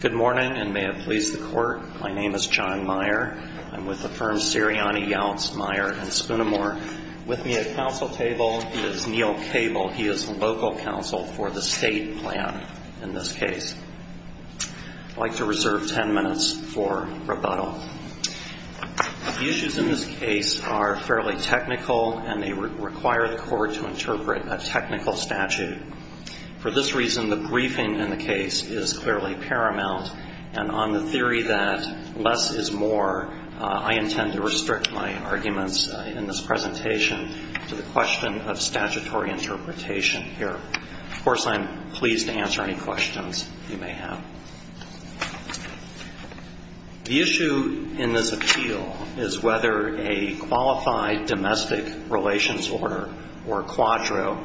Good morning and may it please the court. My name is John Meyer. I'm with the firm Sirianni, Yeltsin, Meyer & Spoonimore. With me at counsel table is Neil Cable. He is the local counsel for the state plan in this case. I'd like to reserve 10 minutes for rebuttal. The issues in this case are fairly technical and they require the court to interpret a technical statute. For this reason, the briefing in the case is clearly paramount and on the theory that less is more, I intend to restrict my arguments in this presentation to the question of statutory interpretation here. Of course, I'm pleased to answer any questions you may have. The issue in this appeal is whether a qualified domestic relations order or quadro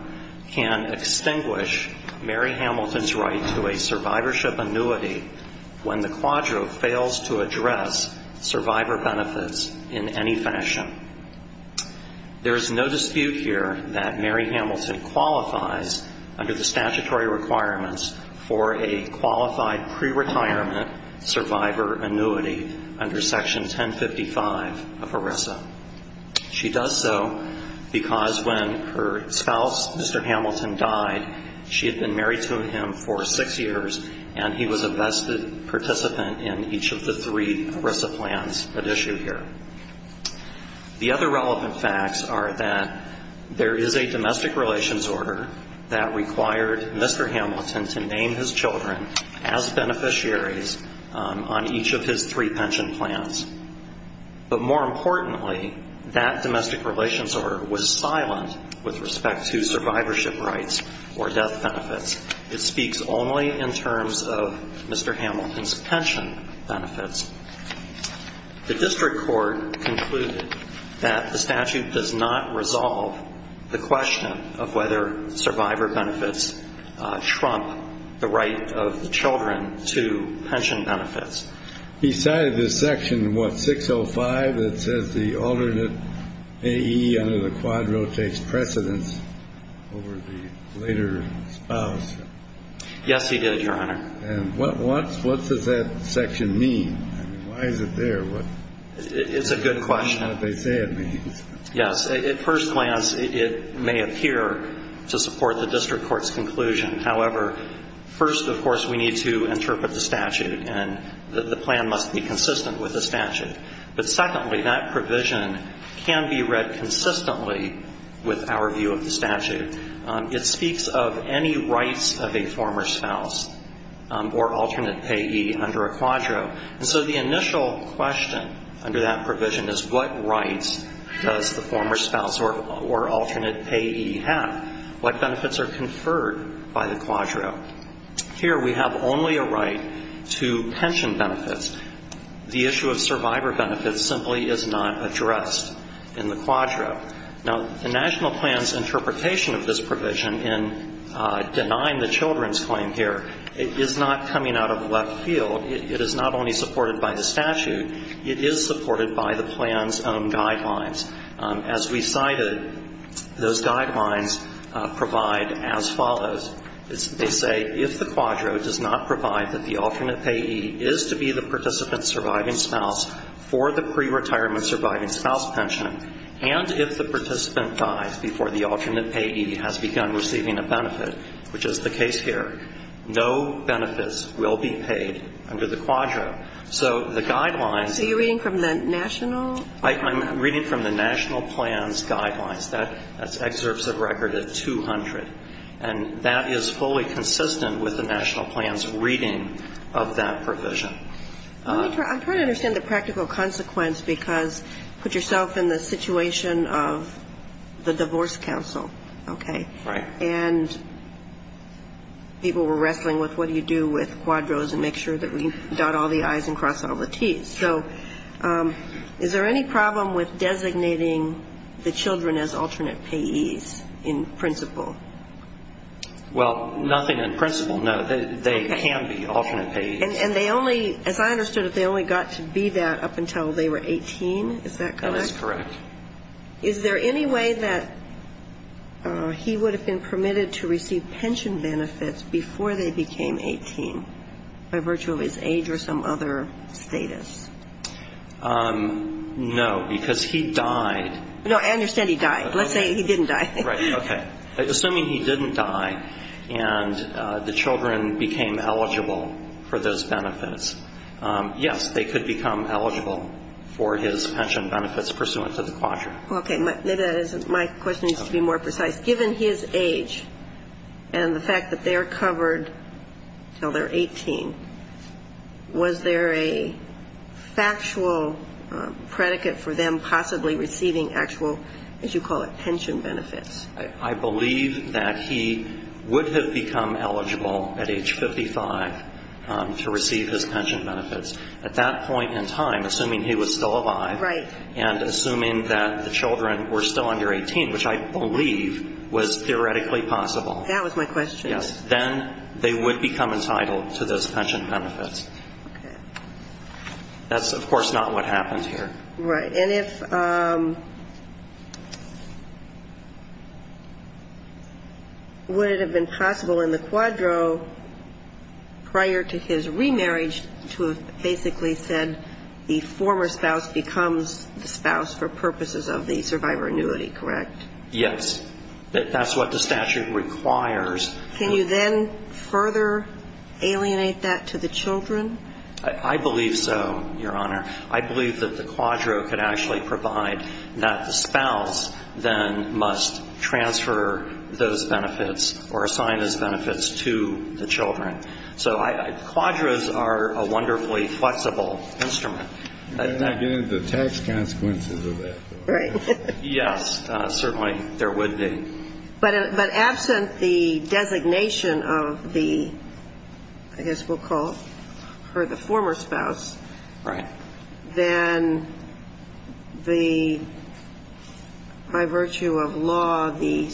can extinguish Mary Hamilton's right to a survivorship annuity when the quadro fails to address survivor benefits in any fashion. There is no dispute here that Mary Hamilton qualifies under the statutory requirements for a qualified pre-retirement survivor annuity under section 1055 of ERISA. She does so because when her spouse, Mr. Hamilton, died, she had been married to him for six years and he was a vested participant in each of the three ERISA plans at issue here. The other relevant facts are that there is a domestic relations order that required Mr. Hamilton to name his children as beneficiaries on each of his three pension plans. But more importantly, that domestic relations order was silent with respect to survivorship rights or death benefits. It speaks only in terms of Mr. Hamilton's pension benefits. The district court concluded that the statute does not resolve the question of whether survivor benefits trump the right of the children to pension benefits. He cited this section, what, 605, that says the alternate AE under the quadro takes precedence over the later spouse? Yes, he did, Your Honor. And what does that section mean? I mean, why is it there? It's a good question. I don't know what they say it means. Yes, at first glance, it may appear to support the district court's conclusion. However, first, of course, we need to interpret the statute and the plan must be consistent with the statute. But secondly, that provision can be read consistently with our view of the statute. It speaks of any rights of a former spouse or alternate AE under a quadro. And so the initial question under that provision is what rights does the former spouse or alternate AE have? What benefits are conferred by the quadro? Here we have only a right to pension benefits. The issue of survivor benefits simply is not addressed in the quadro. Now, the national plan's interpretation of this provision in denying the children's claim here, it is not coming out of left field. It is not only supported by the statute. It is supported by the plan's own guidelines. As we cited, those guidelines provide as follows. They say if the quadro does not provide that the alternate AE is to be the participant's surviving spouse for the pre-retirement surviving spouse pension, and if the participant dies before the alternate AE has begun receiving a benefit, which is the case here, no benefits will be paid under the quadro. So the guidelines So you're reading from the national? I'm reading from the national plan's guidelines. That's excerpts of record at 200. And that is fully consistent with the national plan's reading of that provision. I'm trying to understand the practical consequence because put yourself in the situation of the divorce counsel, okay? And people were wrestling with what do you do with quadros and make sure that we dot all the I's and cross all the T's. So is there any problem with designating the children as alternate payees in principle? Well, nothing in principle, no. They can be alternate payees. And they only, as I understood it, they only got to be that up until they were 18, is that correct? That is correct. Is there any way that he would have been permitted to receive pension benefits before they became 18 by virtue of his age or some other status? No, because he died. No, I understand he died. Let's say he didn't die. Right, okay. Assuming he didn't die and the children became eligible for those benefits. Yes, they could become eligible for his pension benefits pursuant to the quadrant. Okay. Maybe that isn't my question. It needs to be more precise. Given his age and the fact that they're covered until they're 18, was there a factual predicate for them possibly receiving actual, as you call it, pension benefits? I believe that he would have become eligible at age 55 to receive his pension benefits. At that point in time, assuming he was still alive. Right. And assuming that the children were still under 18, which I believe was theoretically possible. That was my question. Yes. Then they would become entitled to those pension benefits. Okay. That's, of course, not what happened here. Right. And if, would it have been possible in the quadro prior to his remarriage to have basically said the former spouse becomes the spouse for purposes of the survivor annuity, correct? Yes. That's what the statute requires. Can you then further alienate that to the children? I believe so, Your Honor. I believe that the quadro could actually provide that the spouse then must transfer those benefits or assign those benefits to the children. So quadros are a wonderfully flexible instrument. You're not getting the tax consequences of that, though. Right. Yes. Certainly there would be. But absent the designation of the, I guess we'll call her the former spouse. Right. Then the, by virtue of law, the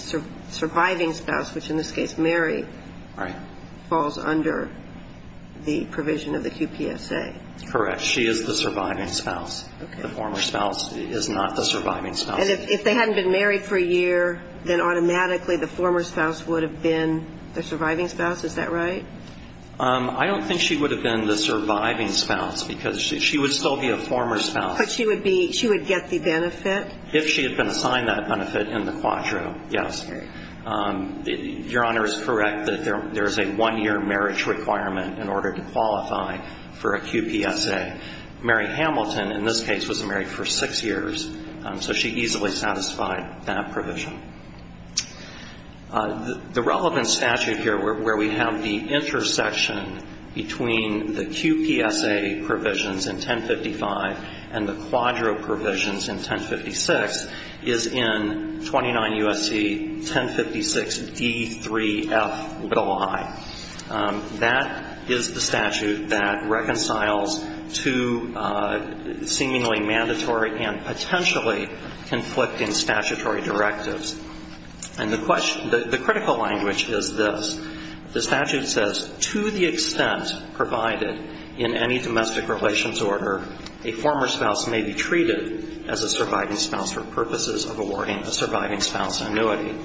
surviving spouse, which in this case Mary. Right. Falls under the provision of the QPSA. Correct. She is the surviving spouse. The former spouse is not the surviving spouse. If they hadn't been married for a year, then automatically the former spouse would have been the surviving spouse, is that right? I don't think she would have been the surviving spouse because she would still be a former spouse. But she would be, she would get the benefit? If she had been assigned that benefit in the quadro, yes. Your Honor is correct that there is a one-year marriage requirement in order to qualify for a that provision. The relevant statute here where we have the intersection between the QPSA provisions in 1055 and the quadro provisions in 1056 is in 29 U.S.C. 1056 D3F i. That is the statute that reconciles two seemingly mandatory and potentially conflicting statutory directives. And the question, the critical language is this. The statute says, to the extent provided in any domestic relations order, a former spouse may be treated as a surviving spouse for purposes of awarding a surviving spouse annuity.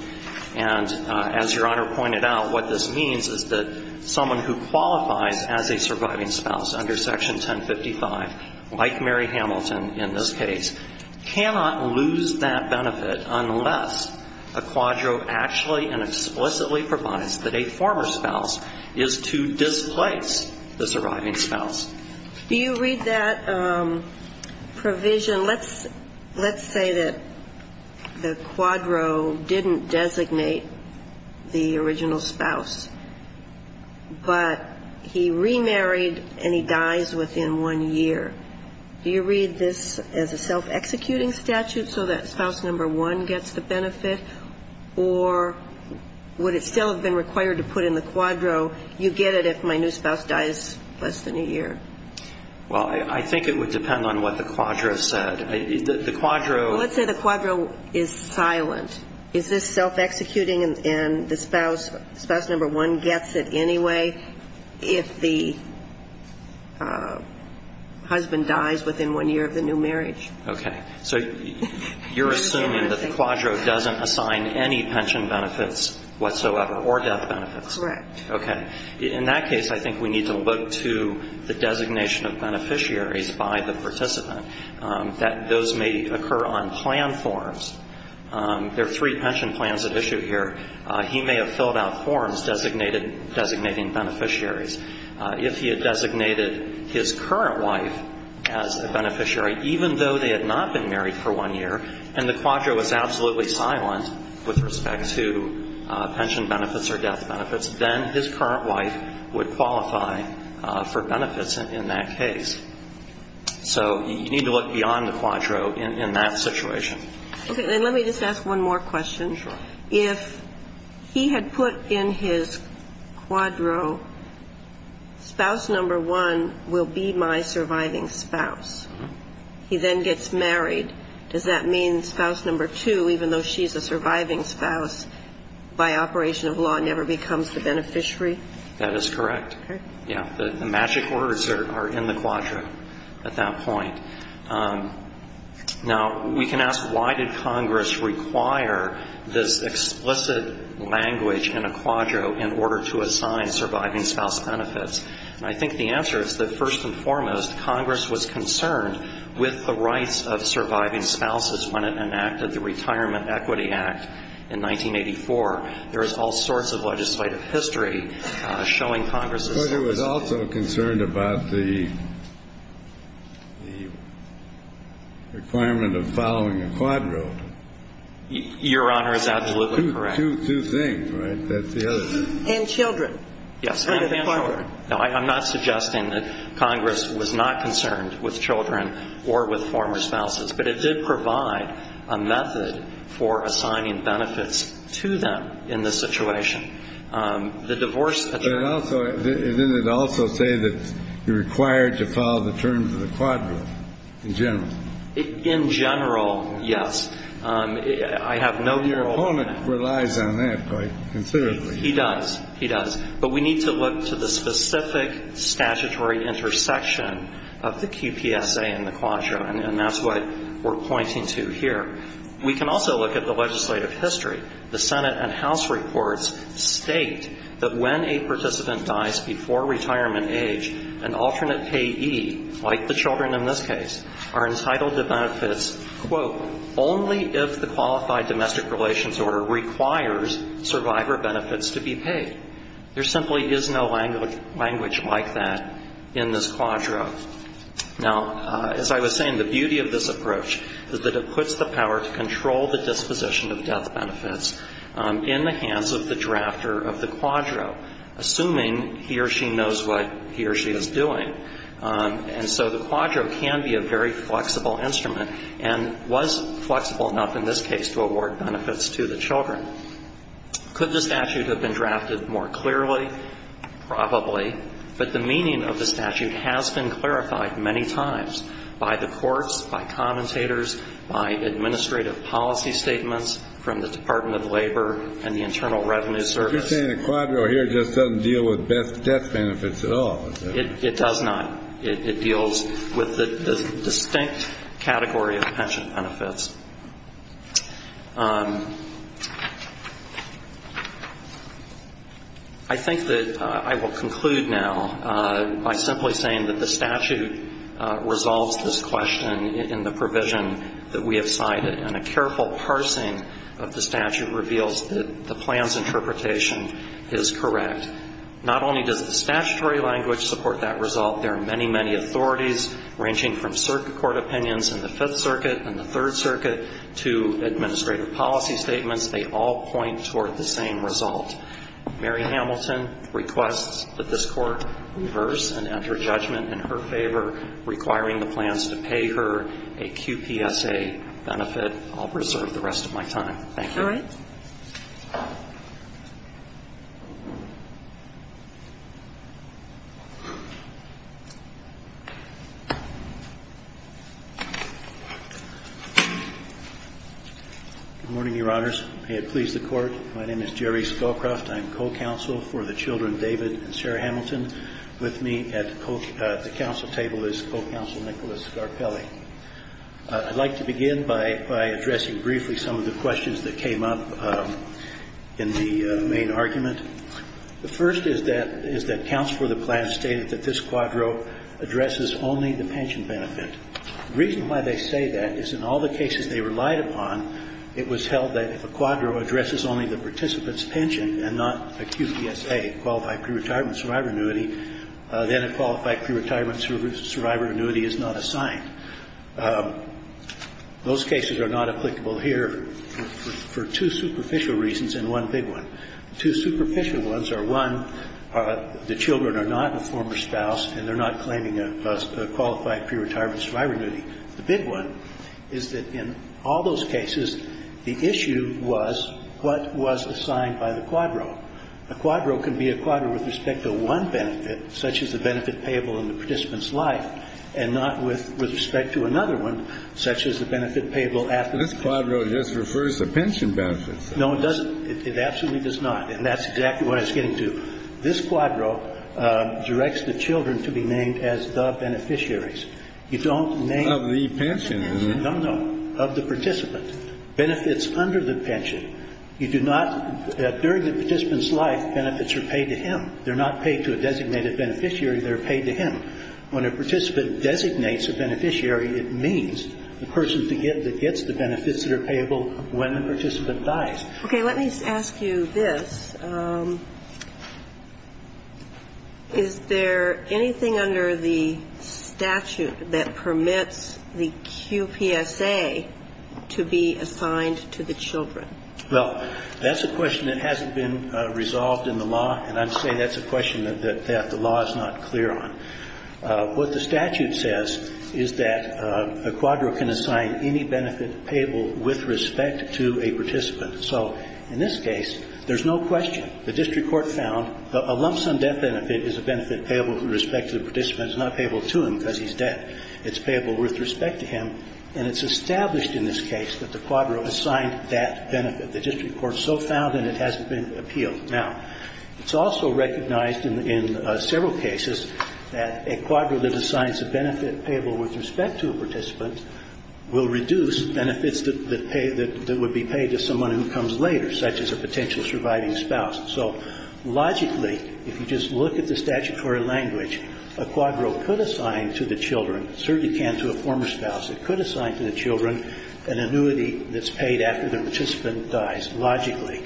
And as Your Honor pointed out, what this means is that someone who qualifies as a surviving spouse under section 1055, like Mary Hamilton in this case, cannot lose that benefit unless a quadro actually and explicitly provides that a former spouse is to displace the surviving spouse. Do you read that provision? Let's say that the quadro didn't designate the original spouse, but he remarried and he dies within one year. Do you read this as a self-executing statute so that spouse number one gets the benefit, or would it still have been required to put in the quadro, you get it if my new spouse dies less than a year? Well, I think it would depend on what the quadro said. The quadro... Let's say the quadro is silent. Is this self-executing and the spouse number one gets it anyway if the husband dies within one year of the new marriage? Okay. So you're assuming that the quadro doesn't assign any pension benefits whatsoever, or death benefits? Correct. Okay. In that case, I think we need to look to the designation of beneficiaries by the participant, that those may occur on plan forms. There are three pension plans at issue here. He may have filled out forms designating beneficiaries. If he had designated his current wife as a beneficiary, even though they had not been married for one year, and the quadro was absolutely silent with respect to pension benefits or death benefits, then his current wife would qualify for benefits in that case. So you need to look beyond the quadro in that situation. Okay. Then let me just ask one more question. Sure. If he had put in his quadro, spouse number one will be my surviving spouse. He then gets married. Does that mean spouse number two, even though she's a surviving spouse, by operation of law never becomes the beneficiary? That is correct. Okay. Yeah. The magic words are in the quadro at that point. Now, we can ask why did Congress require this explicit language in a quadro in order to assign surviving spouse benefits? And I think the answer is that first and foremost, Congress was concerned with the rights of surviving spouses when it enacted the Retirement Equity Act in 1984. There is all sorts of legislative history showing Congress's... But it was also concerned about the requirement of following a quadro. Your Honor is absolutely correct. Two things, right? That's the other thing. And children. Yes, and children. Now, I'm not suggesting that Congress was not concerned with children or with former spouses, but it did provide a method for assigning benefits to them in this situation. The divorce... But did it also say that you're required to follow the terms of the quadro in general? In general, yes. I have no... Your opponent relies on that quite considerably. He does. He does. But we need to look to the specific statutory intersection of the QPSA and the quadro. And that's what we're pointing to here. We can also look at the legislative history. The Senate and House reports state that when a participant dies before retirement age, an alternate payee, like the children in this case, are entitled to benefits, quote, only if the qualified domestic relations order requires survivor benefits to be paid. There simply is no language like that in this quadro. Now, as I was saying, the beauty of this approach is that it puts the power to control the disposition of death benefits in the hands of the drafter of the quadro, assuming he or she knows what he or she is doing. And so the quadro can be a very flexible instrument and was flexible enough in this case to award benefits to the children. Could the statute have been drafted more clearly? Probably. But the meaning of the statute has been clarified many times by the courts, by commentators, by administrative policy statements from the Department of Labor and the Internal Revenue Service. You're saying the quadro here just doesn't deal with death benefits at all? It does not. It deals with the distinct category of pension benefits. I think that I will conclude now by simply saying that the statute resolves this question in the provision that we have cited. And a careful parsing of the statute reveals that the plan's interpretation is correct. Not only does the statutory language support that result, there are many, many authorities, ranging from circuit court opinions in the Fifth Circuit and the Third Circuit, to administrative policy statements. They all point toward the same result. Mary Hamilton requests that this Court reverse and enter judgment in her favor, requiring the plans to pay her a QPSA benefit. I'll preserve the rest of my time. Thank you. Good morning, Your Honors. May it please the Court. My name is Jerry Scowcroft. I'm co-counsel for the children David and Sarah Hamilton. With me at the counsel table is co-counsel Nicholas Garpelli. I'd like to begin by addressing briefly some of the questions that came up in the main argument. The first is that counsel for the plan stated that this quadro addresses only the pension benefit. The reason why they say that is in all the cases they relied upon, it was held that if a quadro addresses only the participant's pension and not a QPSA, a qualified pre-retirement survivor annuity, then a qualified pre-retirement survivor annuity is not assigned. Those cases are not applicable here for two superficial reasons and one big one. Two superficial ones are, one, the children are not a former spouse and they're not claiming a qualified pre-retirement survivor annuity. The big one is that in all those cases, the issue was what was assigned by the quadro. A quadro can be a quadro with respect to one benefit, such as the benefit payable in the participant's life, and not with respect to another one, such as the benefit payable after retirement. This quadro just refers to pension benefits. No, it doesn't. It absolutely does not. And that's exactly what it's getting to. This quadro directs the children to be named as the beneficiaries. You don't name the beneficiaries, you don't know, of the participant. Benefits under the pension, you do not – during the participant's life, benefits are paid to him. They're not paid to a designated beneficiary. They're paid to him. When a participant designates a beneficiary, it means the person that gets the benefits that are payable when the participant dies. Okay. Let me ask you this. Is there anything under the statute that permits the QPSA to be assigned to the children? Well, that's a question that hasn't been resolved in the law, and I'd say that's a question that the law is not clear on. What the statute says is that a quadro can assign any benefit payable with respect to a participant. So in this case, there's no question. The district court found a lump sum death benefit is a benefit payable with respect to the participant. It's not payable to him because he's dead. It's payable with respect to him. And it's established in this case that the quadro assigned that benefit. The district court so found, and it hasn't been appealed. Now, it's also recognized in several cases that a quadro that assigns a benefit payable with respect to a participant will reduce benefits that would be paid to someone who comes later, such as a potential surviving spouse. So logically, if you just look at the statutory language, a quadro could assign to the children, certainly can to a former spouse, it could assign to the children an annuity that's paid after the participant dies, logically.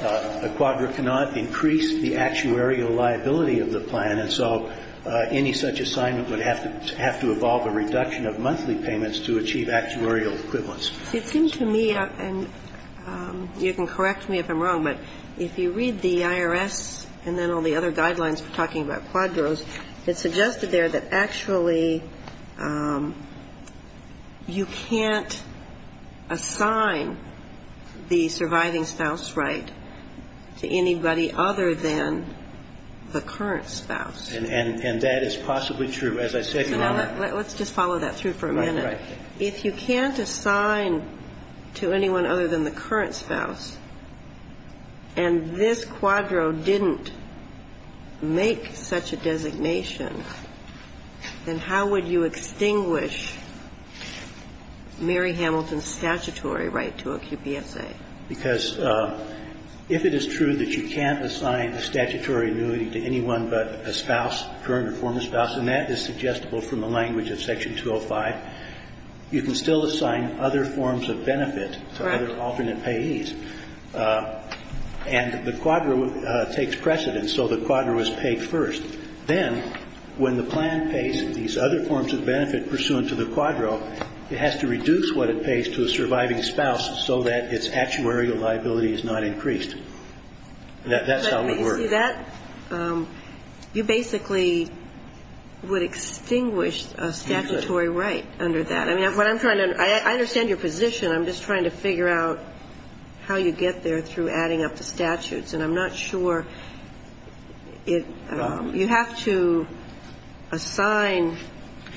A quadro cannot increase the actuarial liability of the plan, and so any such assignment would have to evolve a reduction of monthly payments to achieve actuarial equivalence. It seems to me, and you can correct me if I'm wrong, but if you read the IRS and then all the other guidelines for talking about quadros, it's suggested there that actually you can't assign the surviving spouse right to anybody other than the current spouse. And that is possibly true. As I said, Your Honor, let's just follow that through for a minute. If you can't assign to anyone other than the current spouse, and this quadro didn't make such a designation, then how would you extinguish Mary Hamilton's statutory right to a QPSA? Because if it is true that you can't assign a statutory annuity to anyone but a spouse, current or former spouse, and that is suggestible from the language of Section 205, you can still assign other forms of benefit to other alternate payees. And the quadro takes precedence, so the quadro is paid first. Then when the plan pays these other forms of benefit pursuant to the quadro, it has to reduce what it pays to a surviving spouse so that its actuarial liability is not increased. That's how it would work. But you see, that you basically would extinguish a statutory right under that. I mean, what I'm trying to – I understand your position. I'm just trying to figure out how you get there through adding up the statutes, and I'm not sure it – you have to assign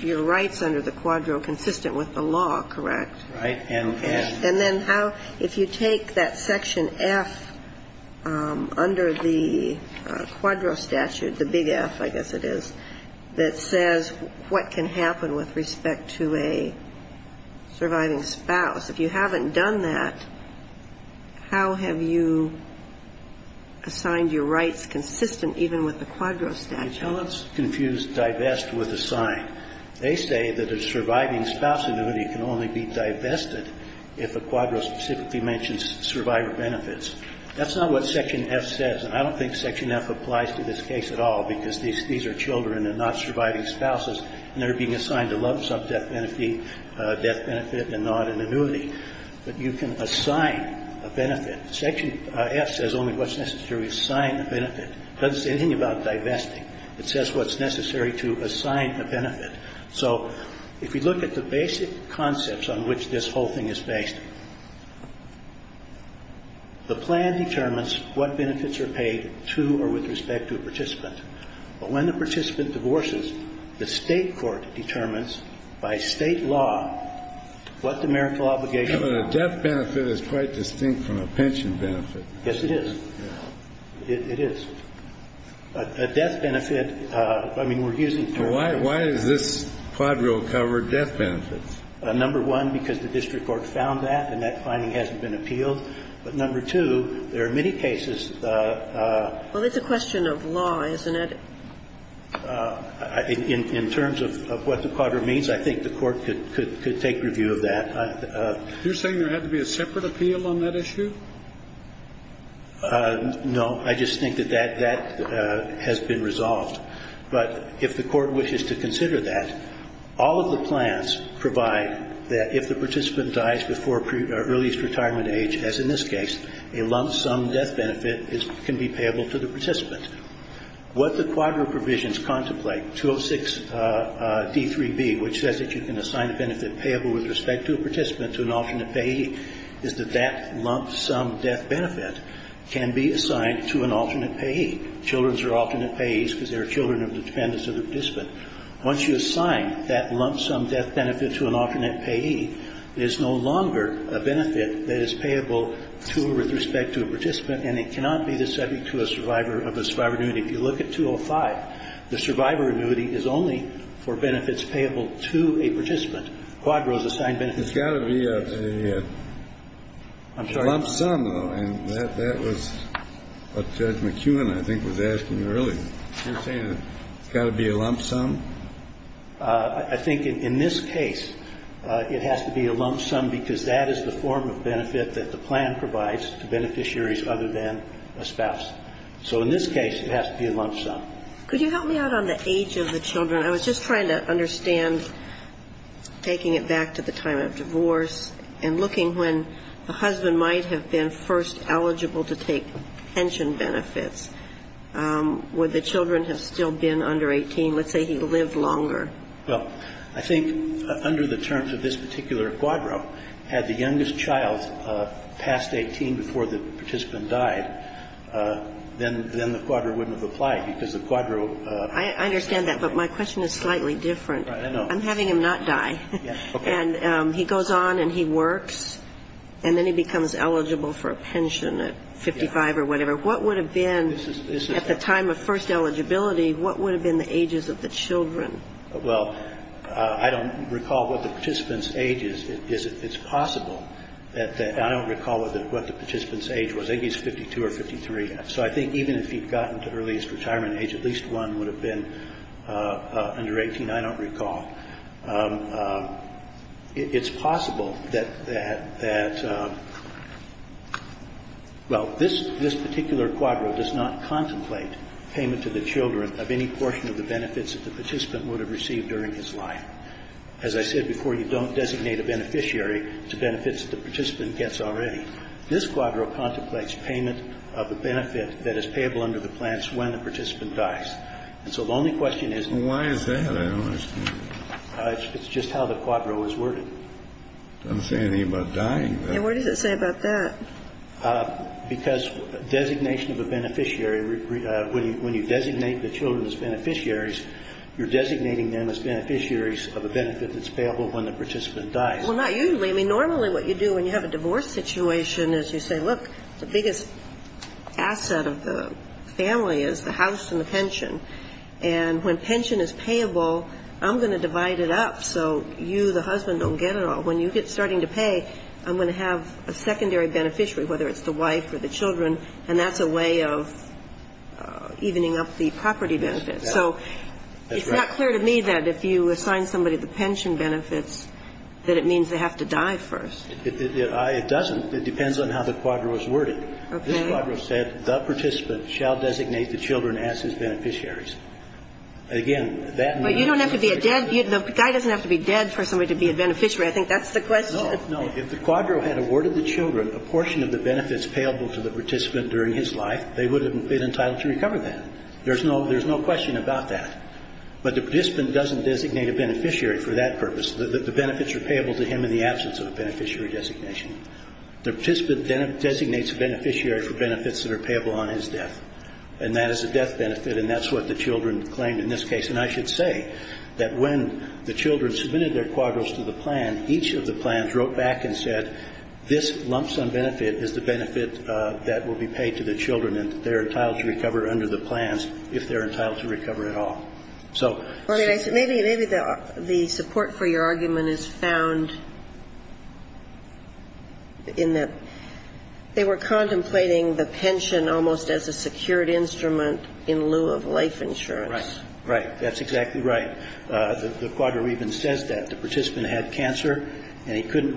your rights under the quadro consistent with the law, correct? Right. And then how – if you take that Section F under the quadro statute, the big F, I guess it is, that says what can happen with respect to a surviving spouse, if you haven't done that, how have you assigned your rights consistent even with the quadro statute? The accountants confuse divest with assign. They say that a surviving spouse annuity can only be divested if a quadro specifically mentions survivor benefits. That's not what Section F says, and I don't think Section F applies to this case at all because these are children and not surviving spouses, and they're being assigned to love some death benefit and not an annuity. But you can assign a benefit. Section F says only what's necessary to assign a benefit. It doesn't say anything about divesting. It says what's necessary to assign a benefit. So if you look at the basic concepts on which this whole thing is based, the plan determines what benefits are paid to or with respect to a participant, but when the participant divorces, the State court determines by State law what the marital obligations are. But a death benefit is quite distinct from a pension benefit. Yes, it is. A death benefit, I mean, we're using terms. Why is this quadro covered death benefits? Number one, because the district court found that and that finding hasn't been appealed. But number two, there are many cases. Well, it's a question of law, isn't it? In terms of what the quadro means, I think the Court could take review of that. You're saying there had to be a separate appeal on that issue? No. I just think that that has been resolved. But if the Court wishes to consider that, all of the plans provide that if the participant dies before earliest retirement age, as in this case, a lump sum death benefit can be payable to the participant. What the quadro provisions contemplate, 206d3b, which says that you can assign a benefit payable with respect to a participant to an alternate payee, is that that lump sum death benefit can be assigned to an alternate payee. Children are alternate payees because they are children of the dependents of the participant. Once you assign that lump sum death benefit to an alternate payee, it is no longer a benefit that is payable to or with respect to a participant, and it cannot be the subject to a survivor of a survivor annuity. If you look at 205, the survivor annuity is only for benefits payable to a participant. Quadro is assigned benefits. It's got to be a lump sum, though, and that was what Judge McEwen, I think, was asking earlier. You're saying it's got to be a lump sum? I think in this case, it has to be a lump sum because that is the form of benefit that the plan provides to beneficiaries other than a spouse. So in this case, it has to be a lump sum. Could you help me out on the age of the children? I was just trying to understand, taking it back to the time of divorce and looking when the husband might have been first eligible to take pension benefits, would the children have still been under 18? Let's say he lived longer. Well, I think under the terms of this particular quadro, had the youngest child passed 18 before the participant died, then the quadro wouldn't have applied because the quadro... I understand that, but my question is slightly different. I'm having him not die. And he goes on and he works, and then he becomes eligible for a pension at 55 or whatever. What would have been, at the time of first eligibility, what would have been the ages of the children? Well, I don't recall what the participant's age is. It's possible that the – I don't recall what the participant's age was. I think he's 52 or 53. So I think even if he'd gotten to earliest retirement age, at least one would have been under 18. I don't recall. It's possible that – well, this particular quadro does not contemplate payment to the children of any portion of the benefits that the participant would have received during his life. As I said before, you don't designate a beneficiary to benefits that the participant gets already. This quadro contemplates payment of a benefit that is payable under the plans when the participant dies. And so the only question is... Why is that? I don't understand. It's just how the quadro is worded. Doesn't say anything about dying. And what does it say about that? Because designation of a beneficiary – when you designate the children as beneficiaries, you're designating them as beneficiaries of a benefit that's payable when the participant dies. Well, not usually. Normally what you do when you have a divorce situation is you say, look, the biggest asset of the family is the house and the pension. And when pension is payable, I'm going to divide it up so you, the husband, don't get it all. When you get starting to pay, I'm going to have a secondary beneficiary, whether it's the wife or the children. And that's a way of evening up the property benefits. So it's not clear to me that if you assign somebody the pension benefits that it means they have to die first. It doesn't. It depends on how the quadro is worded. This quadro said, the participant shall designate the children as his beneficiaries. Again, that... But you don't have to be a dead – the guy doesn't have to be dead for somebody to be a beneficiary. I think that's the question. No, no. If the quadro had awarded the children a portion of the benefits payable to the participant during his life, they would have been entitled to recover that. There's no question about that. But the participant doesn't designate a beneficiary for that purpose. The benefits are payable to him in the absence of a beneficiary designation. The participant designates a beneficiary for benefits that are payable on his death. And that is a death benefit, and that's what the children claimed in this case. And I should say that when the children submitted their quadros to the plan, each of the plans wrote back and said, this lump sum benefit is the benefit that will be paid to the children, and they're entitled to recover under the plans if they're entitled to recover at all. So... Maybe the support for your argument is found in that they were contemplating the pension almost as a secured instrument in lieu of life insurance. Right. Right. That's exactly right. The quadro even says that. The participant had cancer, and he couldn't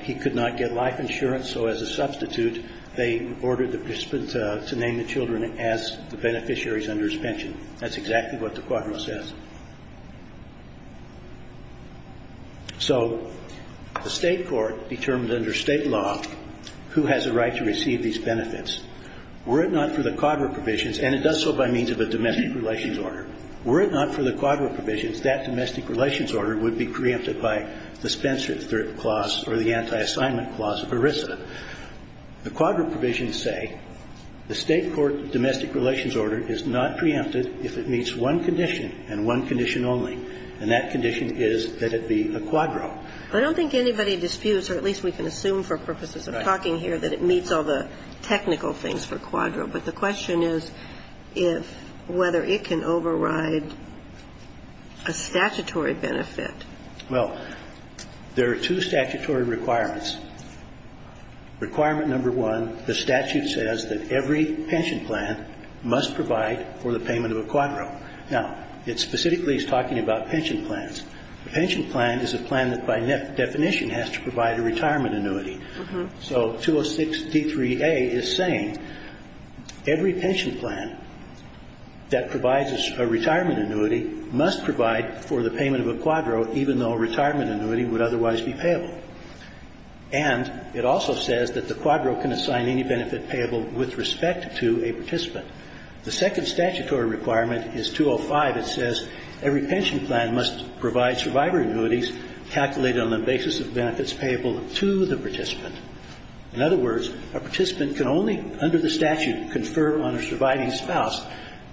– he could not get life insurance. So as a substitute, they ordered the participant to name the children as the beneficiaries under his pension. That's exactly what the quadro says. So the state court determined under state law who has a right to receive these benefits. Were it not for the quadro provisions – and it does so by means of a domestic relations order – were it not for the quadro provisions, that domestic relations order would be preempted by the Spencer III clause or the anti-assignment clause of ERISA. The quadro provisions say the state court domestic relations order is not preempted if it meets one condition, and one condition only. And that condition is that it be a quadro. I don't think anybody disputes, or at least we can assume for purposes of talking here, that it meets all the technical things for quadro. But the question is if – whether it can override a statutory benefit. Well, there are two statutory requirements. Requirement number one, the statute says that every pension plan must provide for the payment of a quadro. Now, it specifically is talking about pension plans. A pension plan is a plan that by definition has to provide a retirement annuity. So 206D3A is saying every pension plan that provides a retirement annuity must provide for the payment of a quadro, even though a retirement annuity would otherwise be payable. And it also says that the quadro can assign any benefit payable with respect to a participant. The second statutory requirement is 205. It says every pension plan must provide survivor annuities calculated on the basis of benefits payable to the participant. In other words, a participant can only, under the statute, confer on a surviving spouse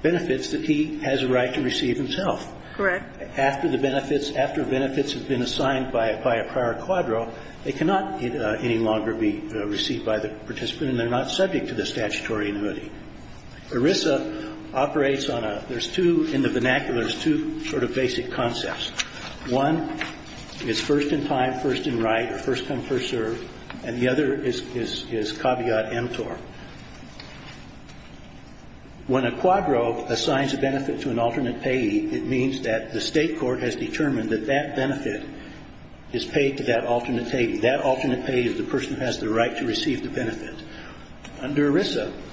benefits that he has a right to receive himself. Correct. After the benefits – after benefits have been assigned by a prior quadro, they cannot any longer be received by the participant, and they're not subject to the statutory annuity. ERISA operates on a – there's two – in the vernacular, there's two sort of basic concepts. One is first-in-time, first-in-right, or first-come, first-served. And the other is caveat emptor. When a quadro assigns a benefit to an alternate payee, it means that the state court has determined that that benefit is paid to that alternate payee. That alternate payee is the person who has the right to receive the benefit. Under ERISA –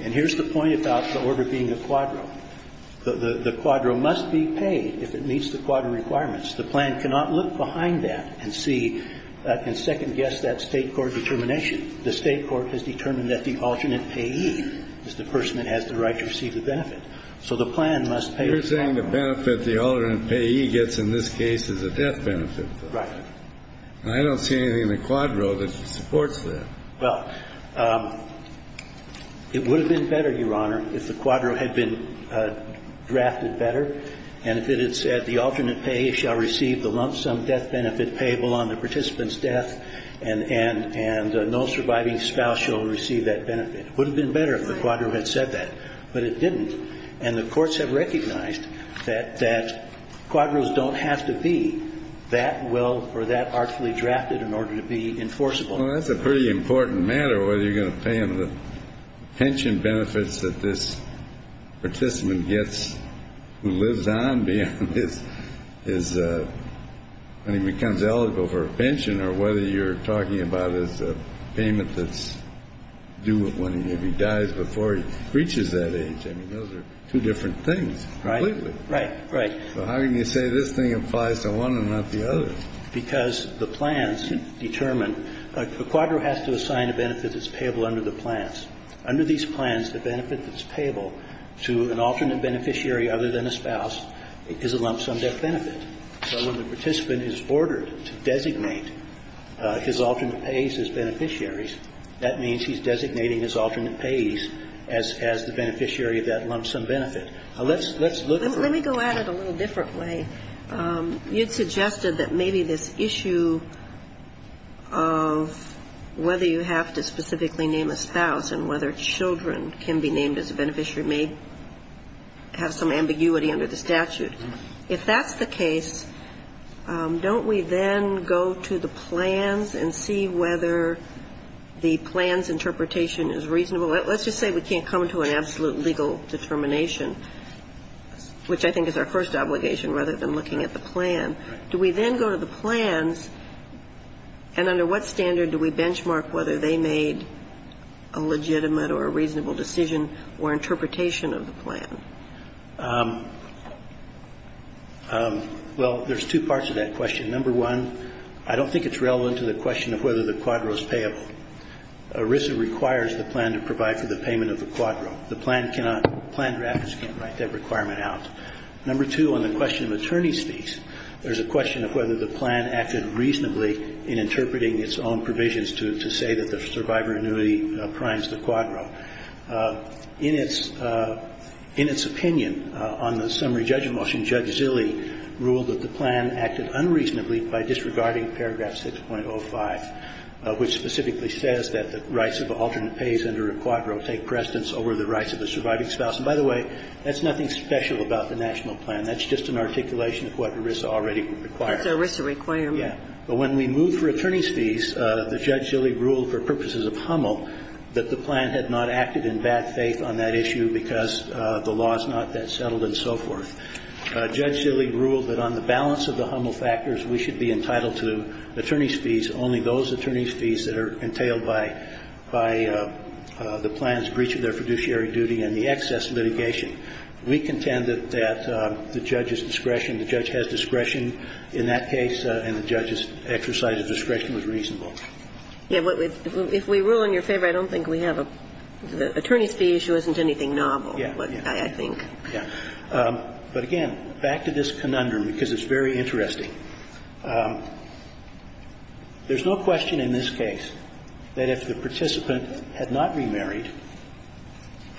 and here's the point about the order being a quadro – the quadro must be paid if it meets the quadro requirements. The plan cannot look behind that and see – and second-guess that state court determination. The state court has determined that the alternate payee is the person that has the right to receive the benefit. So the plan must pay the quadro. You're saying the benefit the alternate payee gets in this case is a death benefit. Right. And I don't see anything in the quadro that supports that. Well, it would have been better, Your Honor, if the quadro had been drafted better and if it had said the alternate payee shall receive the lump-sum death benefit payable on the participant's death and no surviving spouse shall receive that benefit. It would have been better if the quadro had said that. But it didn't. And the courts have recognized that quadros don't have to be that well or that artfully drafted in order to be enforceable. Well, that's a pretty important matter, whether you're going to pay them the pension benefits that this participant gets who lives on beyond his – when he becomes eligible for a pension or whether you're talking about his payment that's due when he maybe dies before he reaches that age. I mean, those are two different things completely. Right, right, right. So how can you say this thing applies to one and not the other? Because the plans determine – a quadro has to assign a benefit that's payable under the plans. Under these plans, the benefit that's payable to an alternate beneficiary other than a spouse is a lump-sum death benefit. So when the participant is ordered to designate his alternate payees as beneficiaries, that means he's designating his alternate payees as the beneficiary of that lump-sum benefit. Now, let's look at – Let me go at it a little differently. You'd suggested that maybe this issue of whether you have to specifically name a spouse and whether children can be named as a beneficiary may have some ambiguity under the statute. If that's the case, don't we then go to the plans and see whether the plans interpretation is reasonable? Let's just say we can't come to an absolute legal determination, which I think is our first obligation rather than looking at the plan. Do we then go to the plans, and under what standard do we benchmark whether they made a legitimate or a reasonable decision or interpretation of the plan? Well, there's two parts to that question. Number one, I don't think it's relevant to the question of whether the quadro is payable. ERISA requires the plan to provide for the payment of the quadro. The plan cannot – plan drafters cannot write that requirement out. Number two, on the question of attorney's fees, there's a question of whether the plan acted reasonably in interpreting its own provisions to say that there's a survivor annuity primes the quadro. In its – in its opinion, on the summary judgment motion, Judge Zilli ruled that the plan acted unreasonably by disregarding paragraph 6.05, which specifically says that the rights of alternate pays under a quadro take precedence over the rights of a surviving spouse. And by the way, that's nothing special about the national plan. That's just an articulation of what ERISA already requires. Kagan. But when we move for attorney's fees, the Judge Zilli ruled for purposes of the HUML, that the plan had not acted in bad faith on that issue because the law is not that settled and so forth. Judge Zilli ruled that on the balance of the HUML factors, we should be entitled to attorney's fees, only those attorney's fees that are entailed by – by the plan's breach of their fiduciary duty and the excess litigation. We contend that the judge's discretion, the judge has discretion in that case, and the judge's exercise of discretion was reasonable. Yeah, but if we rule in your favor, I don't think we have a – the attorney's fee issue isn't anything novel, I think. Yeah, yeah. But again, back to this conundrum, because it's very interesting. There's no question in this case that if the participant had not remarried,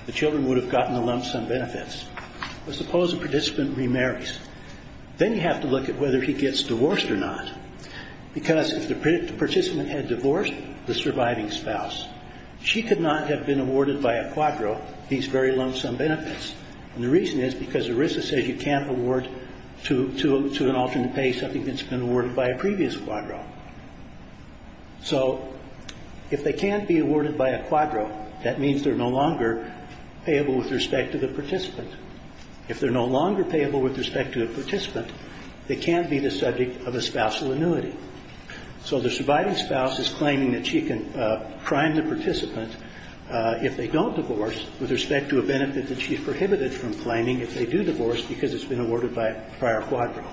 the children would have gotten a lump sum benefits. But suppose a participant remarries. Then you have to look at whether he gets divorced or not, because if the participant had divorced the surviving spouse, she could not have been awarded by a quadro these very lump sum benefits. And the reason is because ERISA says you can't award to – to an alternate pay something that's been awarded by a previous quadro. So if they can't be awarded by a quadro, that means they're no longer payable with respect to the participant. If they're no longer payable with respect to a participant, they can't be the subject of a spousal annuity. So the surviving spouse is claiming that she can prime the participant if they don't divorce with respect to a benefit that she's prohibited from claiming if they do divorce because it's been awarded by a prior quadro.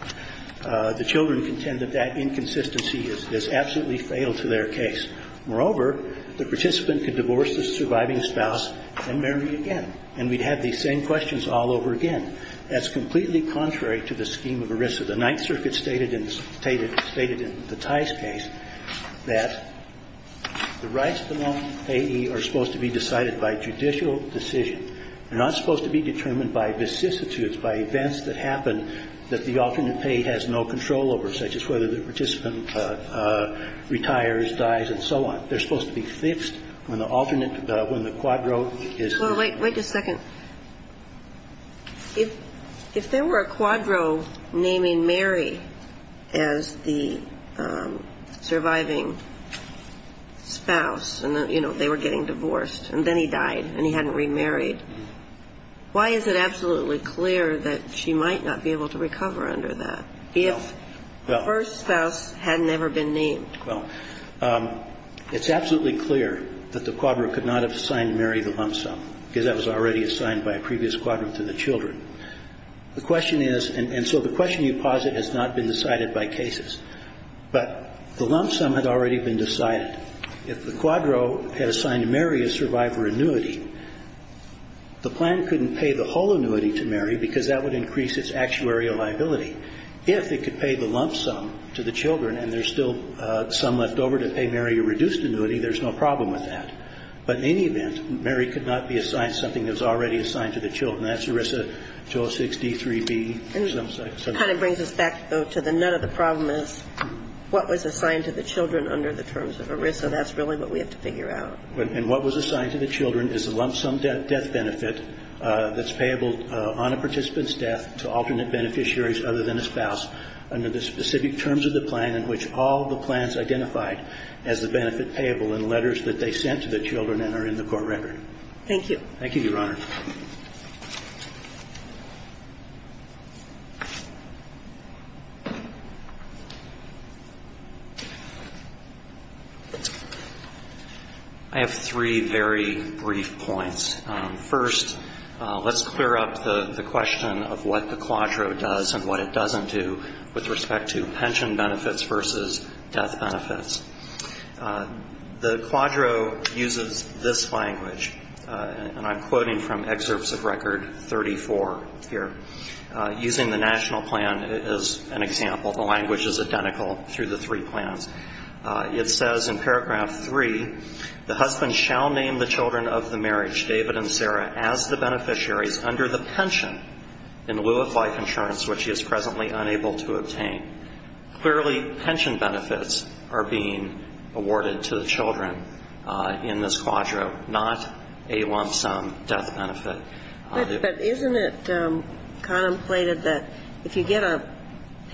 The children contend that that inconsistency is absolutely fatal to their case. Moreover, the participant could divorce the surviving spouse and marry again. And we'd have these same questions all over again. That's completely contrary to the scheme of ERISA. So the Ninth Circuit stated in the – stated in the Tice case that the rights of the non-payee are supposed to be decided by judicial decision. They're not supposed to be determined by vicissitudes, by events that happen that the alternate payee has no control over, such as whether the participant retires, dies, and so on. They're supposed to be fixed when the alternate – when the quadro is not. Well, wait – wait just a second. If – if there were a quadro naming Mary as the surviving spouse and, you know, they were getting divorced and then he died and he hadn't remarried, why is it absolutely clear that she might not be able to recover under that if her spouse had never been named? Well, it's absolutely clear that the quadro could not have signed Mary the lump sum. Because that was already assigned by a previous quadro to the children. The question is – and so the question you posit has not been decided by cases. But the lump sum had already been decided. If the quadro had assigned Mary a survivor annuity, the plan couldn't pay the whole annuity to Mary because that would increase its actuarial liability. If it could pay the lump sum to the children and there's still some left over to pay Mary a reduced annuity, there's no problem with that. But in any event, Mary could not be assigned something that was already assigned to the children. That's ERISA 206-D3B. And it kind of brings us back, though, to the – none of the problem is what was assigned to the children under the terms of ERISA. That's really what we have to figure out. And what was assigned to the children is the lump sum death benefit that's payable on a participant's death to alternate beneficiaries other than a spouse under the specific terms of the plan in which all the plans identified as the benefit payable in letters that they sent to the children and are in the court record. Thank you. Thank you, Your Honor. I have three very brief points. First, let's clear up the question of what the quadro does and what it doesn't do with respect to pension benefits versus death benefits. The quadro uses this language, and I'm quoting from Excerpts of Record 34 here, using the national plan as an example. The language is identical through the three plans. It says in paragraph 3, the husband shall name the children of the marriage, David and Sarah, as the beneficiaries under the pension in lieu of life insurance, which he is presently unable to obtain. Clearly, pension benefits are being awarded to the children in this quadro, not a lump sum death benefit. But isn't it contemplated that if you get a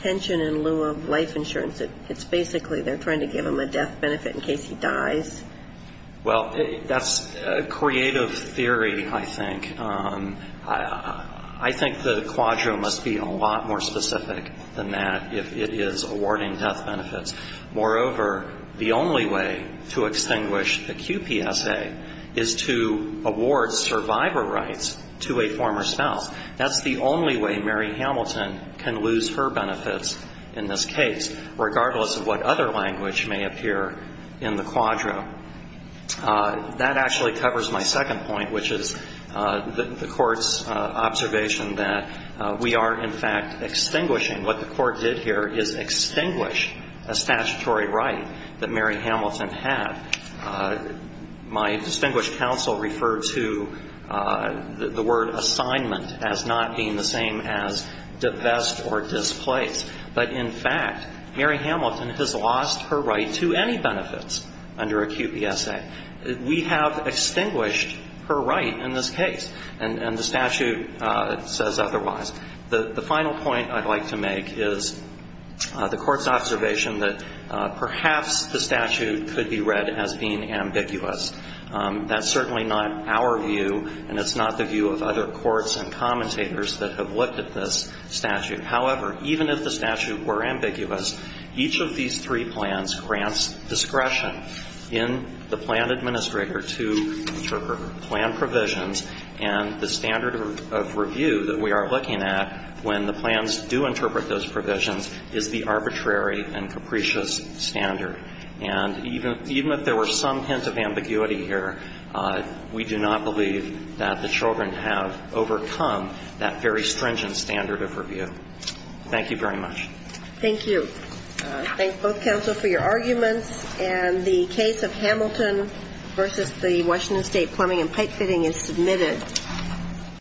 pension in lieu of life insurance, it's basically they're trying to give him a death benefit in case he dies? Well, that's a creative theory, I think. I think the quadro must be a lot more specific than that if it is awarding death benefits. Moreover, the only way to extinguish a QPSA is to award survivor rights to a former spouse. That's the only way Mary Hamilton can lose her benefits in this case, regardless of what other language may appear in the quadro. That actually covers my second point, which is the court's observation that we are, in fact, extinguishing. What the court did here is extinguish a statutory right that Mary Hamilton had. My distinguished counsel referred to the word assignment as not being the same as divest or displace. But in fact, Mary Hamilton has lost her right to any benefits under a QPSA. We have extinguished her right in this case, and the statute says otherwise. The final point I'd like to make is the court's observation that perhaps the statute could be read as being ambiguous. That's certainly not our view, and it's not the view of other courts and commentators that have looked at this statute. However, even if the statute were ambiguous, each of these three plans grants discretion in the plan administrator to interpret plan provisions, and the standard of review that we are looking at when the plans do interpret those provisions is the arbitrary and capricious standard. And even if there were some hint of ambiguity here, we do not believe that the children have overcome that very stringent standard of review. Thank you very much. Thank you. I thank both counsel for your arguments, and the case of Hamilton versus the Washington State plumbing and pipe fitting is submitted.